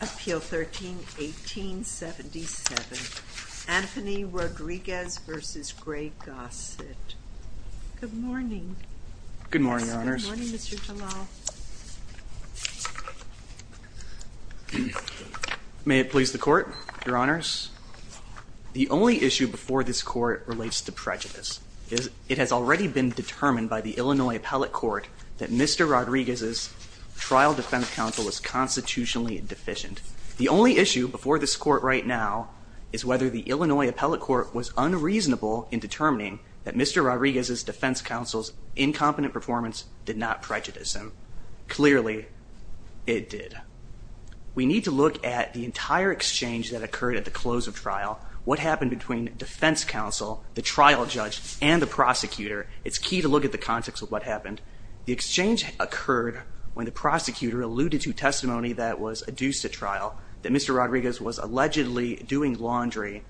Appeal 13-1877 Anthony Rodriguez v. Greg Gossett Good morning. Good morning, Your Honors. May it please the Court, Your Honors. The only issue before this Court relates to prejudice. It has already been determined by the Illinois Appellate Court that Mr. Rodriguez's trial defense counsel is constitutionally deficient. The only issue before this Court right now is whether the Illinois Appellate Court was unreasonable in determining that Mr. Rodriguez's defense counsel's incompetent performance did not prejudice him. Clearly, it did. We need to look at the entire exchange that occurred at the close of trial, what happened between defense counsel, the trial judge, and the prosecutor. It's key to look at the context of what happened. The exchange occurred when the prosecutor alluded to testimony that was adduced to trial, that Mr. Rodriguez was allegedly doing laundry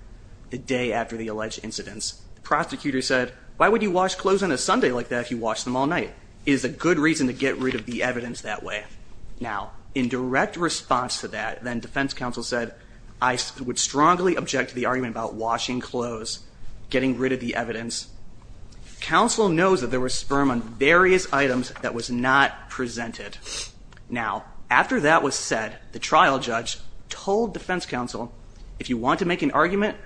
the day after the alleged incidents. The prosecutor said, why would you wash clothes on a Sunday like that if you wash them all night? It is a good reason to get rid of the evidence that way. Now, in direct response to that, then defense counsel said, I would strongly object to the argument about washing clothes, getting rid of the evidence. Counsel knows that there was sperm on various items that was not presented. Now, after that was said, the trial judge told defense counsel, if you want to make an argument,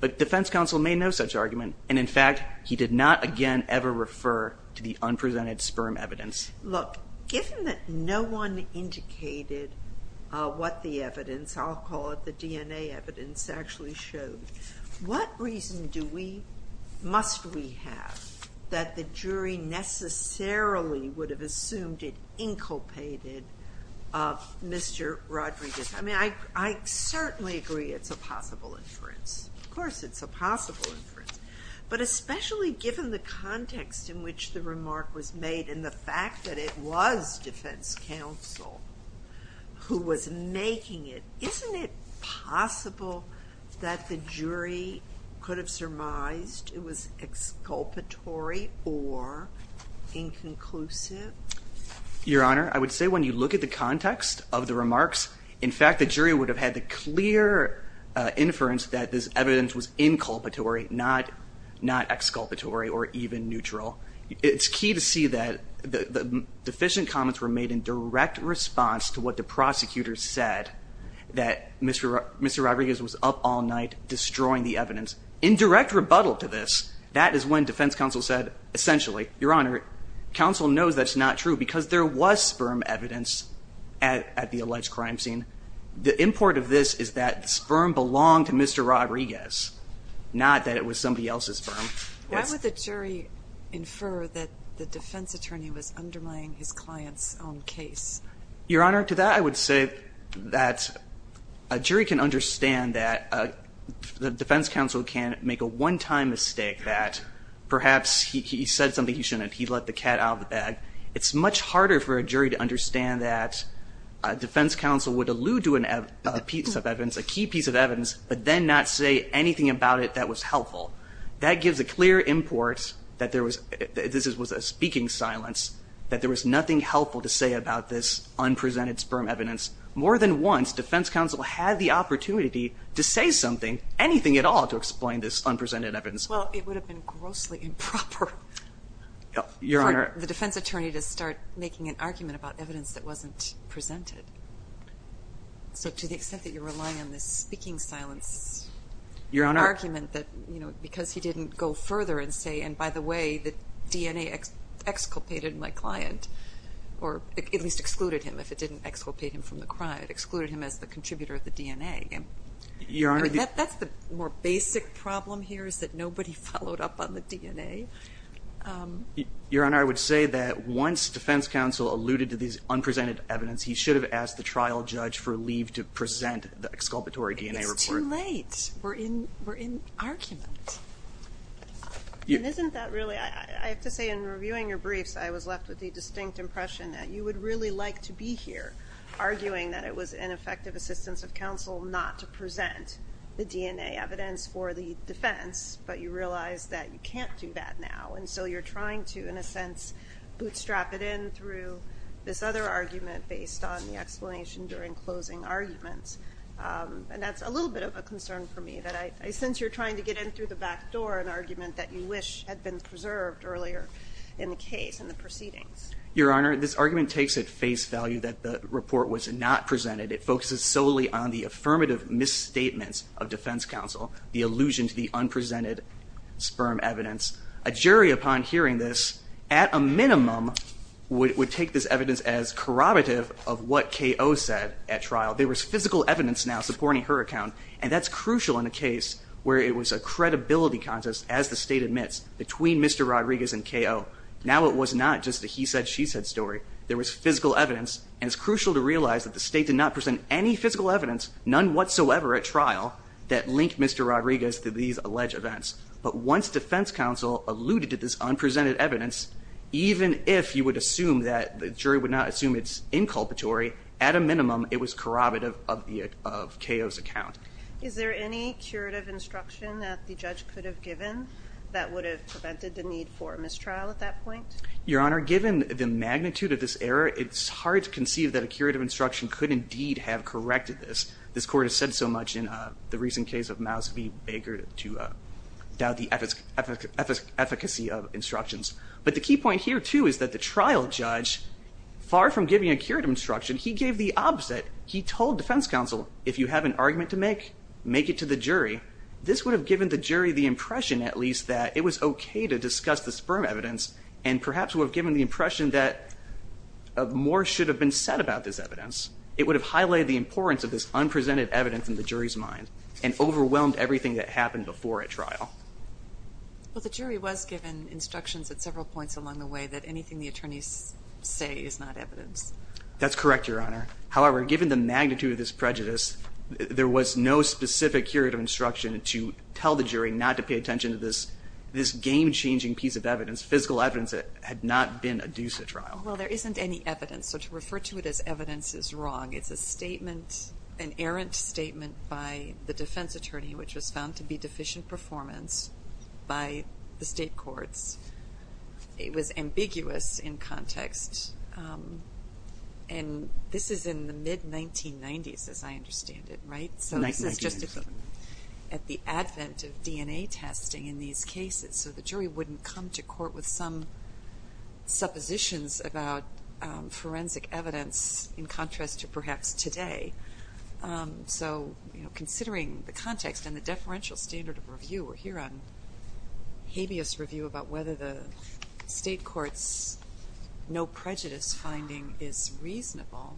but defense counsel made no such argument, and in fact, he did not again ever refer to the unpresented sperm evidence. Look, given that no one indicated what the evidence, I'll call it the DNA evidence, actually showed, what reason do we, must we have that the jury necessarily would have assumed it inculpated Mr. Rodriguez? I mean, I certainly agree it's a possible inference. Of course, it's a possible inference, but especially given the context in which the remark was made and the fact that it was defense counsel who was making it, isn't it possible that the jury could have surmised it was exculpatory or inconclusive? Your Honor, I would say when you look at the context of the remarks, in fact, the jury would have had the clear inference that this evidence was inculpatory, not exculpatory or even neutral. It's key to see that the deficient comments were made in direct response to what the prosecutor said that Mr. Rodriguez was up all night destroying the evidence. In direct rebuttal to this, that is when defense counsel said, essentially, Your Honor, counsel knows that's not true because there was sperm evidence at the alleged crime scene. The import of this is that sperm belonged to Mr. Rodriguez, not that it was somebody else's sperm. Why would the jury infer that the defense attorney was undermining his client's own case? Your Honor, to that I would say that a jury can understand that the defense counsel can make a one-time mistake that perhaps he said something he shouldn't, he let the cat out of the defense counsel would allude to a piece of evidence, a key piece of evidence, but then not say anything about it that was helpful. That gives a clear import that there was, this was a speaking silence, that there was nothing helpful to say about this unpresented sperm evidence. More than once, defense counsel had the opportunity to say something, anything at all, to explain this unpresented evidence. Well, it would have been grossly improper for the defense attorney to start making an argument. So to the extent that you're relying on this speaking silence argument that, you know, because he didn't go further and say, and by the way, the DNA exculpated my client, or at least excluded him, if it didn't exculpate him from the crime, it excluded him as the contributor of the DNA. Your Honor, that's the more basic problem here, is that nobody followed up on the DNA. Your Honor, I would say that once defense counsel alluded to these unpresented evidence, he should have asked the trial judge for leave to present the exculpatory DNA report. It's too late. We're in argument. Isn't that really, I have to say in reviewing your briefs, I was left with the distinct impression that you would really like to be here, arguing that it was ineffective assistance of counsel not to present the DNA evidence for the defense, but you realize that you can't do that now, and so you're trying to, in a sense, bootstrap it in through this other argument based on the explanation during closing arguments, and that's a little bit of a concern for me, that I sense you're trying to get in through the back door an argument that you wish had been preserved earlier in the case and the proceedings. Your Honor, this argument takes at face value that the report was not presented. It focuses solely on the affirmative misstatements of defense counsel, the allusion to the unpresented sperm evidence. A jury upon hearing this, at a minimum, would take this evidence as corroborative of what K.O. said at trial. There was physical evidence now supporting her account, and that's crucial in a case where it was a credibility contest, as the state admits, between Mr. Rodriguez and K.O. Now it was not just a he-said-she-said story. There was physical evidence, and it's crucial to realize that the state did not present any physical evidence, none whatsoever, at trial that linked Mr. Rodriguez to these alleged events, but once defense counsel alluded to this unprecedented evidence, even if you would assume that the jury would not assume it's inculpatory, at a minimum, it was corroborative of K.O.'s account. Is there any curative instruction that the judge could have given that would have prevented the need for a mistrial at that point? Your Honor, given the magnitude of this error, it's hard to conceive that a curative instruction could indeed have corrected this. This court has said so much in the recent case of Mouse v. Baker to doubt the efficacy of instructions, but the key point here, too, is that the trial judge, far from giving a curative instruction, he gave the opposite. He told defense counsel, if you have an argument to make, make it to the jury. This would have given the jury the impression, at least, that it was okay to discuss the sperm evidence, and perhaps would have given the impression that more should have been said about this evidence. It would have highlighted the importance of this unprecedented evidence in the jury's mind, and overwhelmed everything that happened before a trial. Well, the jury was given instructions at several points along the way that anything the attorneys say is not evidence. That's correct, Your Honor. However, given the magnitude of this prejudice, there was no specific curative instruction to tell the jury not to pay attention to this game-changing piece of evidence, physical evidence, that had not been adduced at trial. Well, there isn't any evidence, so to refer to it as evidence is wrong. It's a statement, an errant statement by the defense attorney, which was found to be deficient performance by the state courts. It was ambiguous in context, and this is in the mid-1990s, as I understand it, right? So this is just at the advent of DNA testing in these cases, so the jury wouldn't come to court with some suppositions about forensic evidence in contrast to perhaps today. So, you know, considering the context and the deferential standard of review, we're here on habeas review about whether the state court's no prejudice finding is reasonable.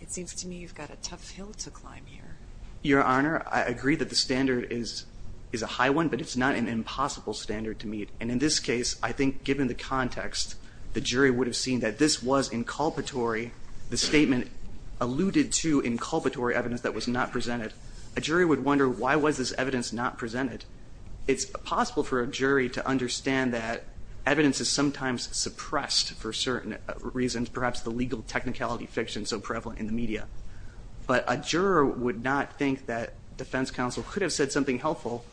It seems to me you've got a tough hill to climb here. Your Honor, I agree that the standard is is a high one, but it's not an impossible standard to meet, and in this case, I think given the context, the jury would have seen that this was inculpatory. The statement alluded to inculpatory evidence that was not presented. A jury would wonder, why was this evidence not presented? It's possible for a jury to understand that evidence is sometimes suppressed for certain reasons, perhaps the legal technicality fiction so prevalent in the media, but a juror would not think that defense counsel could have said something helpful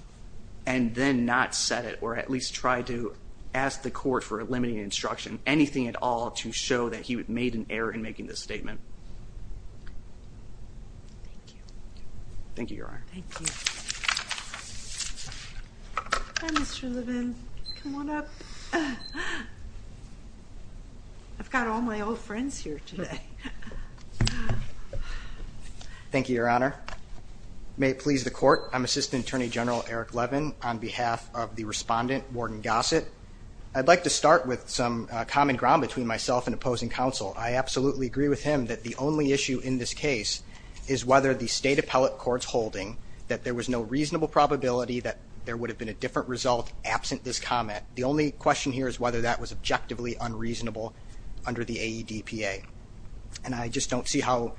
and then not set it, or at least try to ask the court for eliminating instruction, anything at all to show that he made an error in making this statement. Thank you. Thank you, Your Honor. Thank you, Mr. Levin. Come on up. I've got all my old friends here today. Thank you, Your Honor. I'm Assistant Attorney General Eric Levin on behalf of the respondent, Warden Gossett. I'd like to start with some common ground between myself and opposing counsel. I absolutely agree with him that the only issue in this case is whether the State Appellate Court's holding that there was no reasonable probability that there would have been a different result absent this comment. The only question here is whether that was objectively unreasonable under the AEDPA, and I just don't see how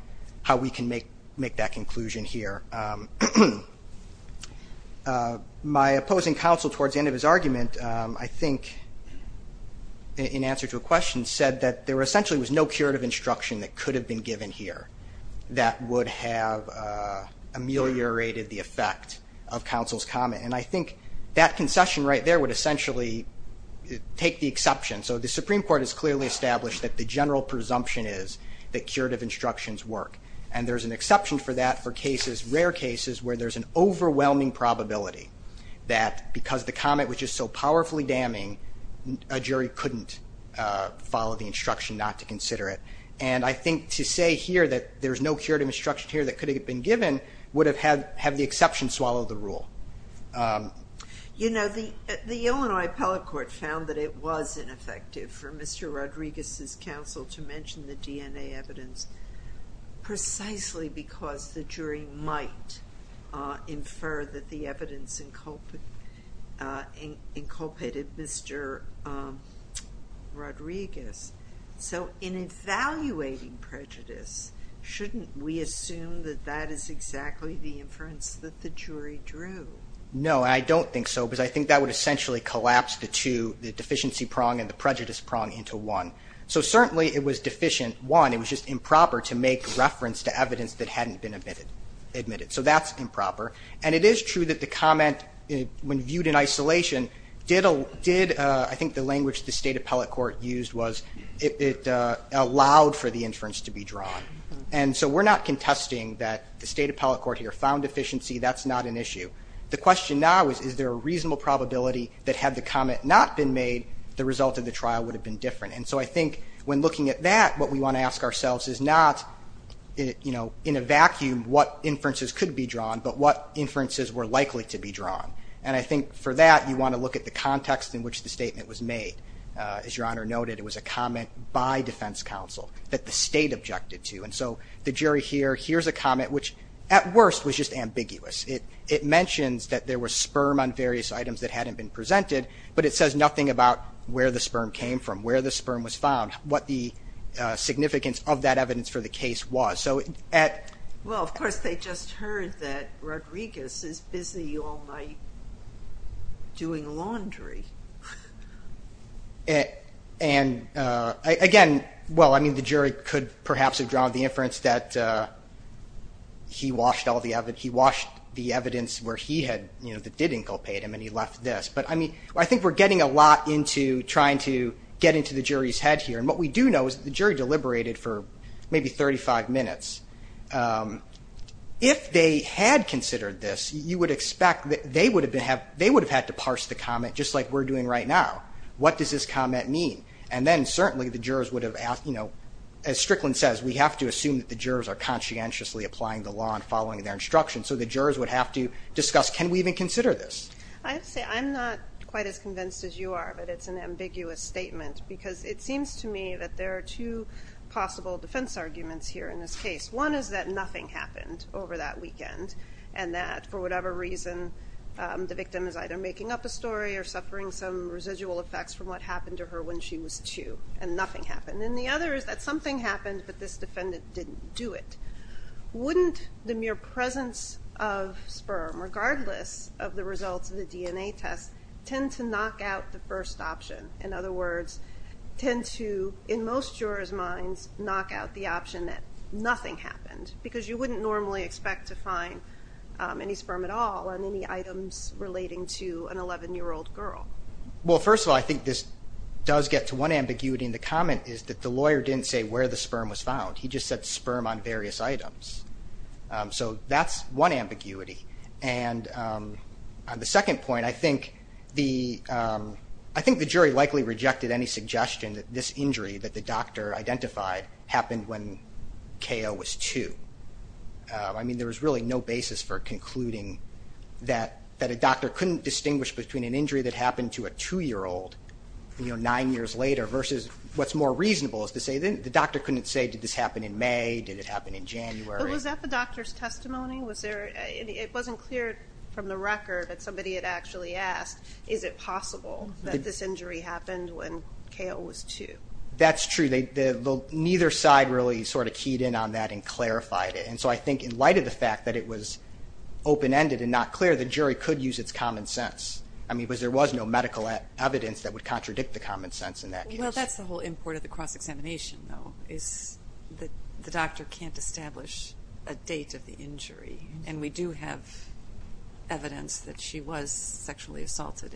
we can make that conclusion here. My opposing counsel towards the end of his argument, I think in answer to a question, said that there essentially was no curative instruction that could have been given here that would have ameliorated the effect of counsel's comment, and I think that concession right there would essentially take the exception. So the presumption is that curative instructions work, and there's an exception for that for cases, rare cases, where there's an overwhelming probability that because the comment was just so powerfully damning, a jury couldn't follow the instruction not to consider it. And I think to say here that there's no curative instruction here that could have been given would have had the exception swallow the rule. You know, the Illinois Appellate Court found that it was ineffective for Mr. Rodriguez's counsel to mention the DNA evidence precisely because the jury might infer that the evidence inculpated Mr. Rodriguez. So in evaluating prejudice, shouldn't we assume that that is exactly the inference that the jury drew? No, I don't think so, because I think that would essentially collapse the two, the deficiency prong and the prejudice prong into one. So certainly it was deficient, one, it was just improper to make reference to evidence that hadn't been admitted. So that's improper, and it is true that the comment, when viewed in isolation, did, I think the language the State Appellate Court used was it allowed for the inference to be drawn. And so we're not contesting that the State Appellate Court here found deficiency, that's not an issue. The question now is, is there a reasonable probability that had the comment not been made, the result of the trial would have been different? And so I think when looking at that, what we want to ask ourselves is not, you know, in a vacuum what inferences could be drawn, but what inferences were likely to be drawn. And I think for that, you want to look at the context in which the statement was made. As Your Honor noted, it was a comment by defense counsel that the State objected to. And so the jury here, here's a comment which at worst was just ambiguous. It mentions that there was sperm on various items that hadn't been presented, but it says nothing about where the sperm came from, where the sperm was found, what the significance of that evidence for the case was. So at... Well of course they just heard that Rodriguez is busy all night doing laundry. And again, well I mean the jury could perhaps have drawn the inference that he washed all the evidence, he washed the evidence where he had, you know, that did inculpate him, and he left this. But I mean, I think we're getting a lot into trying to get into the jury's head here. And what we do know is the jury deliberated for maybe 35 minutes. If they had considered this, you would expect that they would have been have, they would have had to parse the comment just like we're doing right now. What does this comment mean? And then certainly the jurors would have asked, you know, as Strickland says, we have to assume that the jurors are conscientiously applying the law and we even consider this. I have to say, I'm not quite as convinced as you are, but it's an ambiguous statement because it seems to me that there are two possible defense arguments here in this case. One is that nothing happened over that weekend and that for whatever reason the victim is either making up a story or suffering some residual effects from what happened to her when she was two and nothing happened. And the other is that something happened but this defendant didn't do it. Wouldn't the mere presence of sperm, regardless of the results of the DNA test, tend to knock out the first option? In other words, tend to, in most jurors' minds, knock out the option that nothing happened? Because you wouldn't normally expect to find any sperm at all on any items relating to an 11 year old girl. Well, first of all, I think this does get to one ambiguity and the comment is that the lawyer didn't say where the sperm was found. He just said sperm on various items. So that's one ambiguity. And on the second point, I think the jury likely rejected any suggestion that this injury that the doctor identified happened when Kao was two. I mean, there was really no basis for concluding that that a doctor couldn't distinguish between an injury that happened to a two-year-old, you know, nine years later versus what's more reasonable is to say the doctor couldn't say, did this happen in May? Did it happen in January? Was that the doctor's testimony? It wasn't clear from the record that somebody had actually asked, is it possible that this injury happened when Kao was two? That's true. Neither side really sort of keyed in on that and clarified it. And so I think in light of the fact that it was open-ended and not clear, the jury could use its common sense. I mean, because there was no medical evidence that would contradict the common sense in that case. Well, that's the whole import of the cross-examination, though, is that the doctor can't establish a date of the injury. And we do have evidence that she was sexually assaulted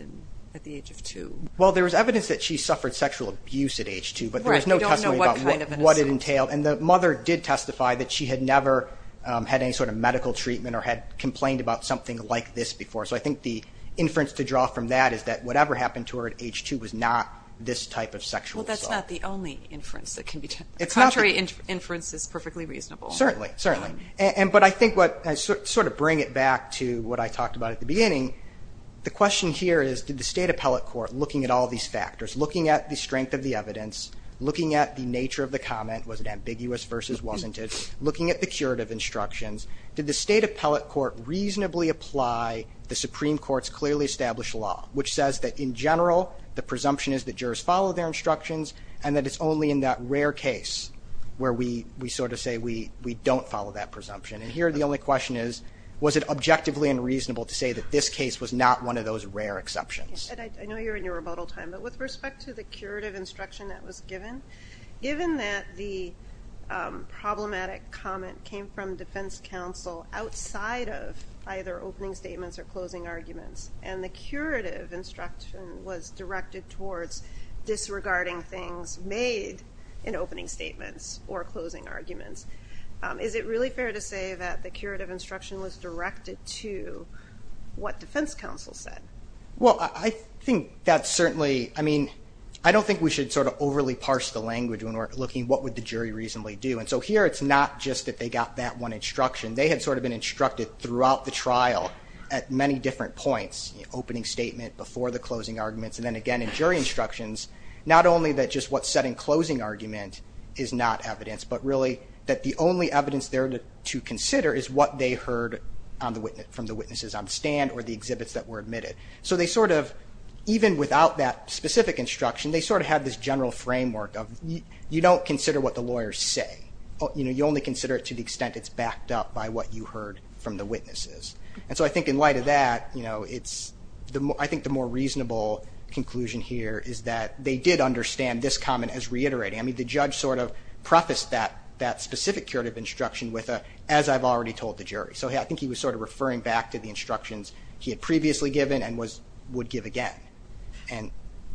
at the age of two. Well, there was evidence that she suffered sexual abuse at age two, but there was no testimony about what it entailed. And the mother did testify that she had never had any sort of medical treatment or had complained about something like this before. So I think the inference to draw from that is that whatever happened to her at age two was not this type of It's not the only inference that can be done. The contrary inference is perfectly reasonable. Certainly, certainly. And but I think what I sort of bring it back to what I talked about at the beginning, the question here is did the State Appellate Court, looking at all these factors, looking at the strength of the evidence, looking at the nature of the comment, was it ambiguous versus wasn't it, looking at the curative instructions, did the State Appellate Court reasonably apply the Supreme Court's clearly established law, which says that in general the follow their instructions and that it's only in that rare case where we we sort of say we we don't follow that presumption. And here the only question is was it objectively unreasonable to say that this case was not one of those rare exceptions? I know you're in your rebuttal time, but with respect to the curative instruction that was given, given that the problematic comment came from Defense Counsel outside of either opening statements or closing arguments and the curative instruction was directed towards disregarding things made in opening statements or closing arguments, is it really fair to say that the curative instruction was directed to what Defense Counsel said? Well, I think that's certainly, I mean, I don't think we should sort of overly parse the language when we're looking what would the jury reasonably do. And so here it's not just that they got that one instruction. They had sort of been instructed throughout the trial at many different points, opening statement, before the closing arguments, and then again in jury instructions, not only that just what's said in closing argument is not evidence, but really that the only evidence there to consider is what they heard on the witness, from the witnesses on stand or the exhibits that were admitted. So they sort of, even without that specific instruction, they sort of had this general framework of you don't consider what the lawyers say. Oh, you know, you only consider it to the from the witnesses. And so I think in light of that, you know, it's, I think the more reasonable conclusion here is that they did understand this comment as reiterating. I mean, the judge sort of prefaced that specific curative instruction with a, as I've already told the jury. So I think he was sort of referring back to the instructions he had previously given and would give again.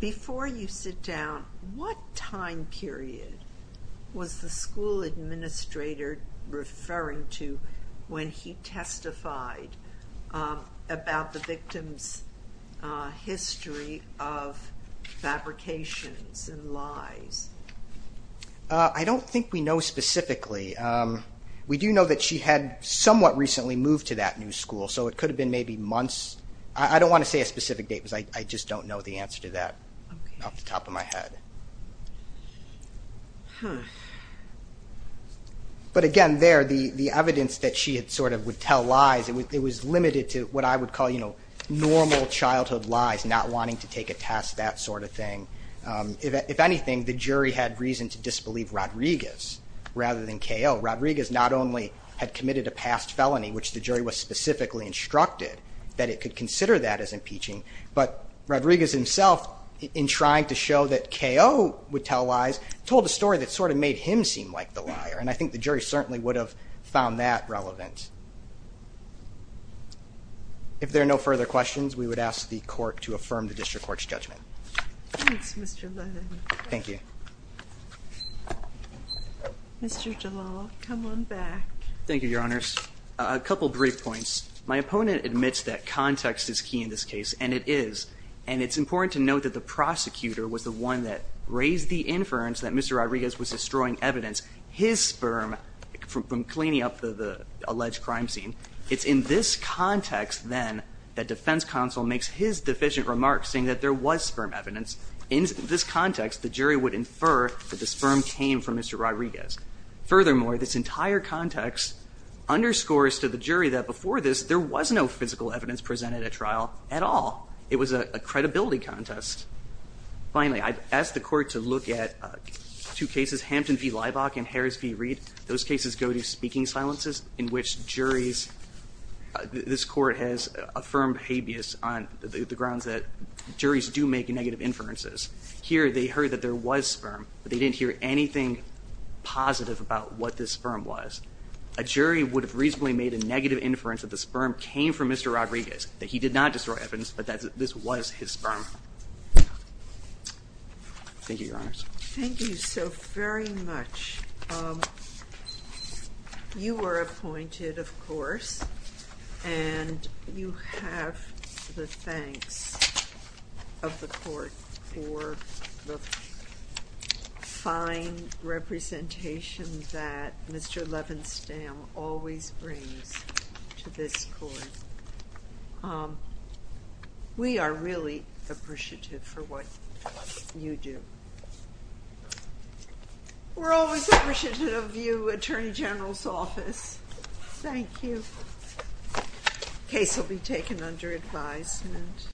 Before you sit down, what time period was the school administrator referring to when he testified about the victim's history of fabrications and lies? I don't think we know specifically. We do know that she had somewhat recently moved to that new school, so it could have been maybe months. I don't want to say a specific date because I just don't know the answer to that off the top of my head. But again, there, the evidence that she had sort of would tell lies, it was limited to what I would call, you know, normal childhood lies, not wanting to take a test, that sort of thing. If anything, the jury had reason to disbelieve Rodriguez rather than KO. Rodriguez not only had committed a past felony, which the jury was specifically instructed that it could consider that as impeaching, but Rodriguez himself, in trying to show that KO would tell lies, told a story that sort of made him seem like the liar. And I think the jury certainly would have found that relevant. If there are no further questions, we would ask the court to affirm the district court's judgment. Thank you. Mr. Jalal, come on back. Thank you, Your Honors. A couple brief points. My opponent admits that context is key in this case, and it is. And it's important to note that the prosecutor was the one that raised the inference that Mr. Rodriguez was destroying evidence, his sperm, from cleaning up the alleged crime scene. It's in this context, then, that defense counsel makes his deficient remarks saying that there was sperm evidence. In this context, the jury would infer that the sperm came from Mr. Rodriguez. Furthermore, this entire context underscores to the jury that before this, there was no physical evidence presented at trial at all. It was a credibility contest. Finally, I've asked the court to look at two cases, Hampton v. Liebach and Harris v. Reed. Those cases go to speaking silences, in which juries, this court has affirmed habeas on the grounds that juries do make negative inferences. Here, they heard that there was sperm, but they didn't hear anything positive about what this sperm was. I think the jury would have reasonably made a negative inference that the sperm came from Mr. Rodriguez, that he did not destroy evidence, but that this was his sperm. Thank you, Your Honors. Thank you so very much. You were appointed, of course, and you have the thanks of the court for the fine representation that Mr. Levenstam always brings to this court. We are really appreciative for what you do. We're always appreciative of you, Attorney General's Office. Thank you. Case will be taken under advisement.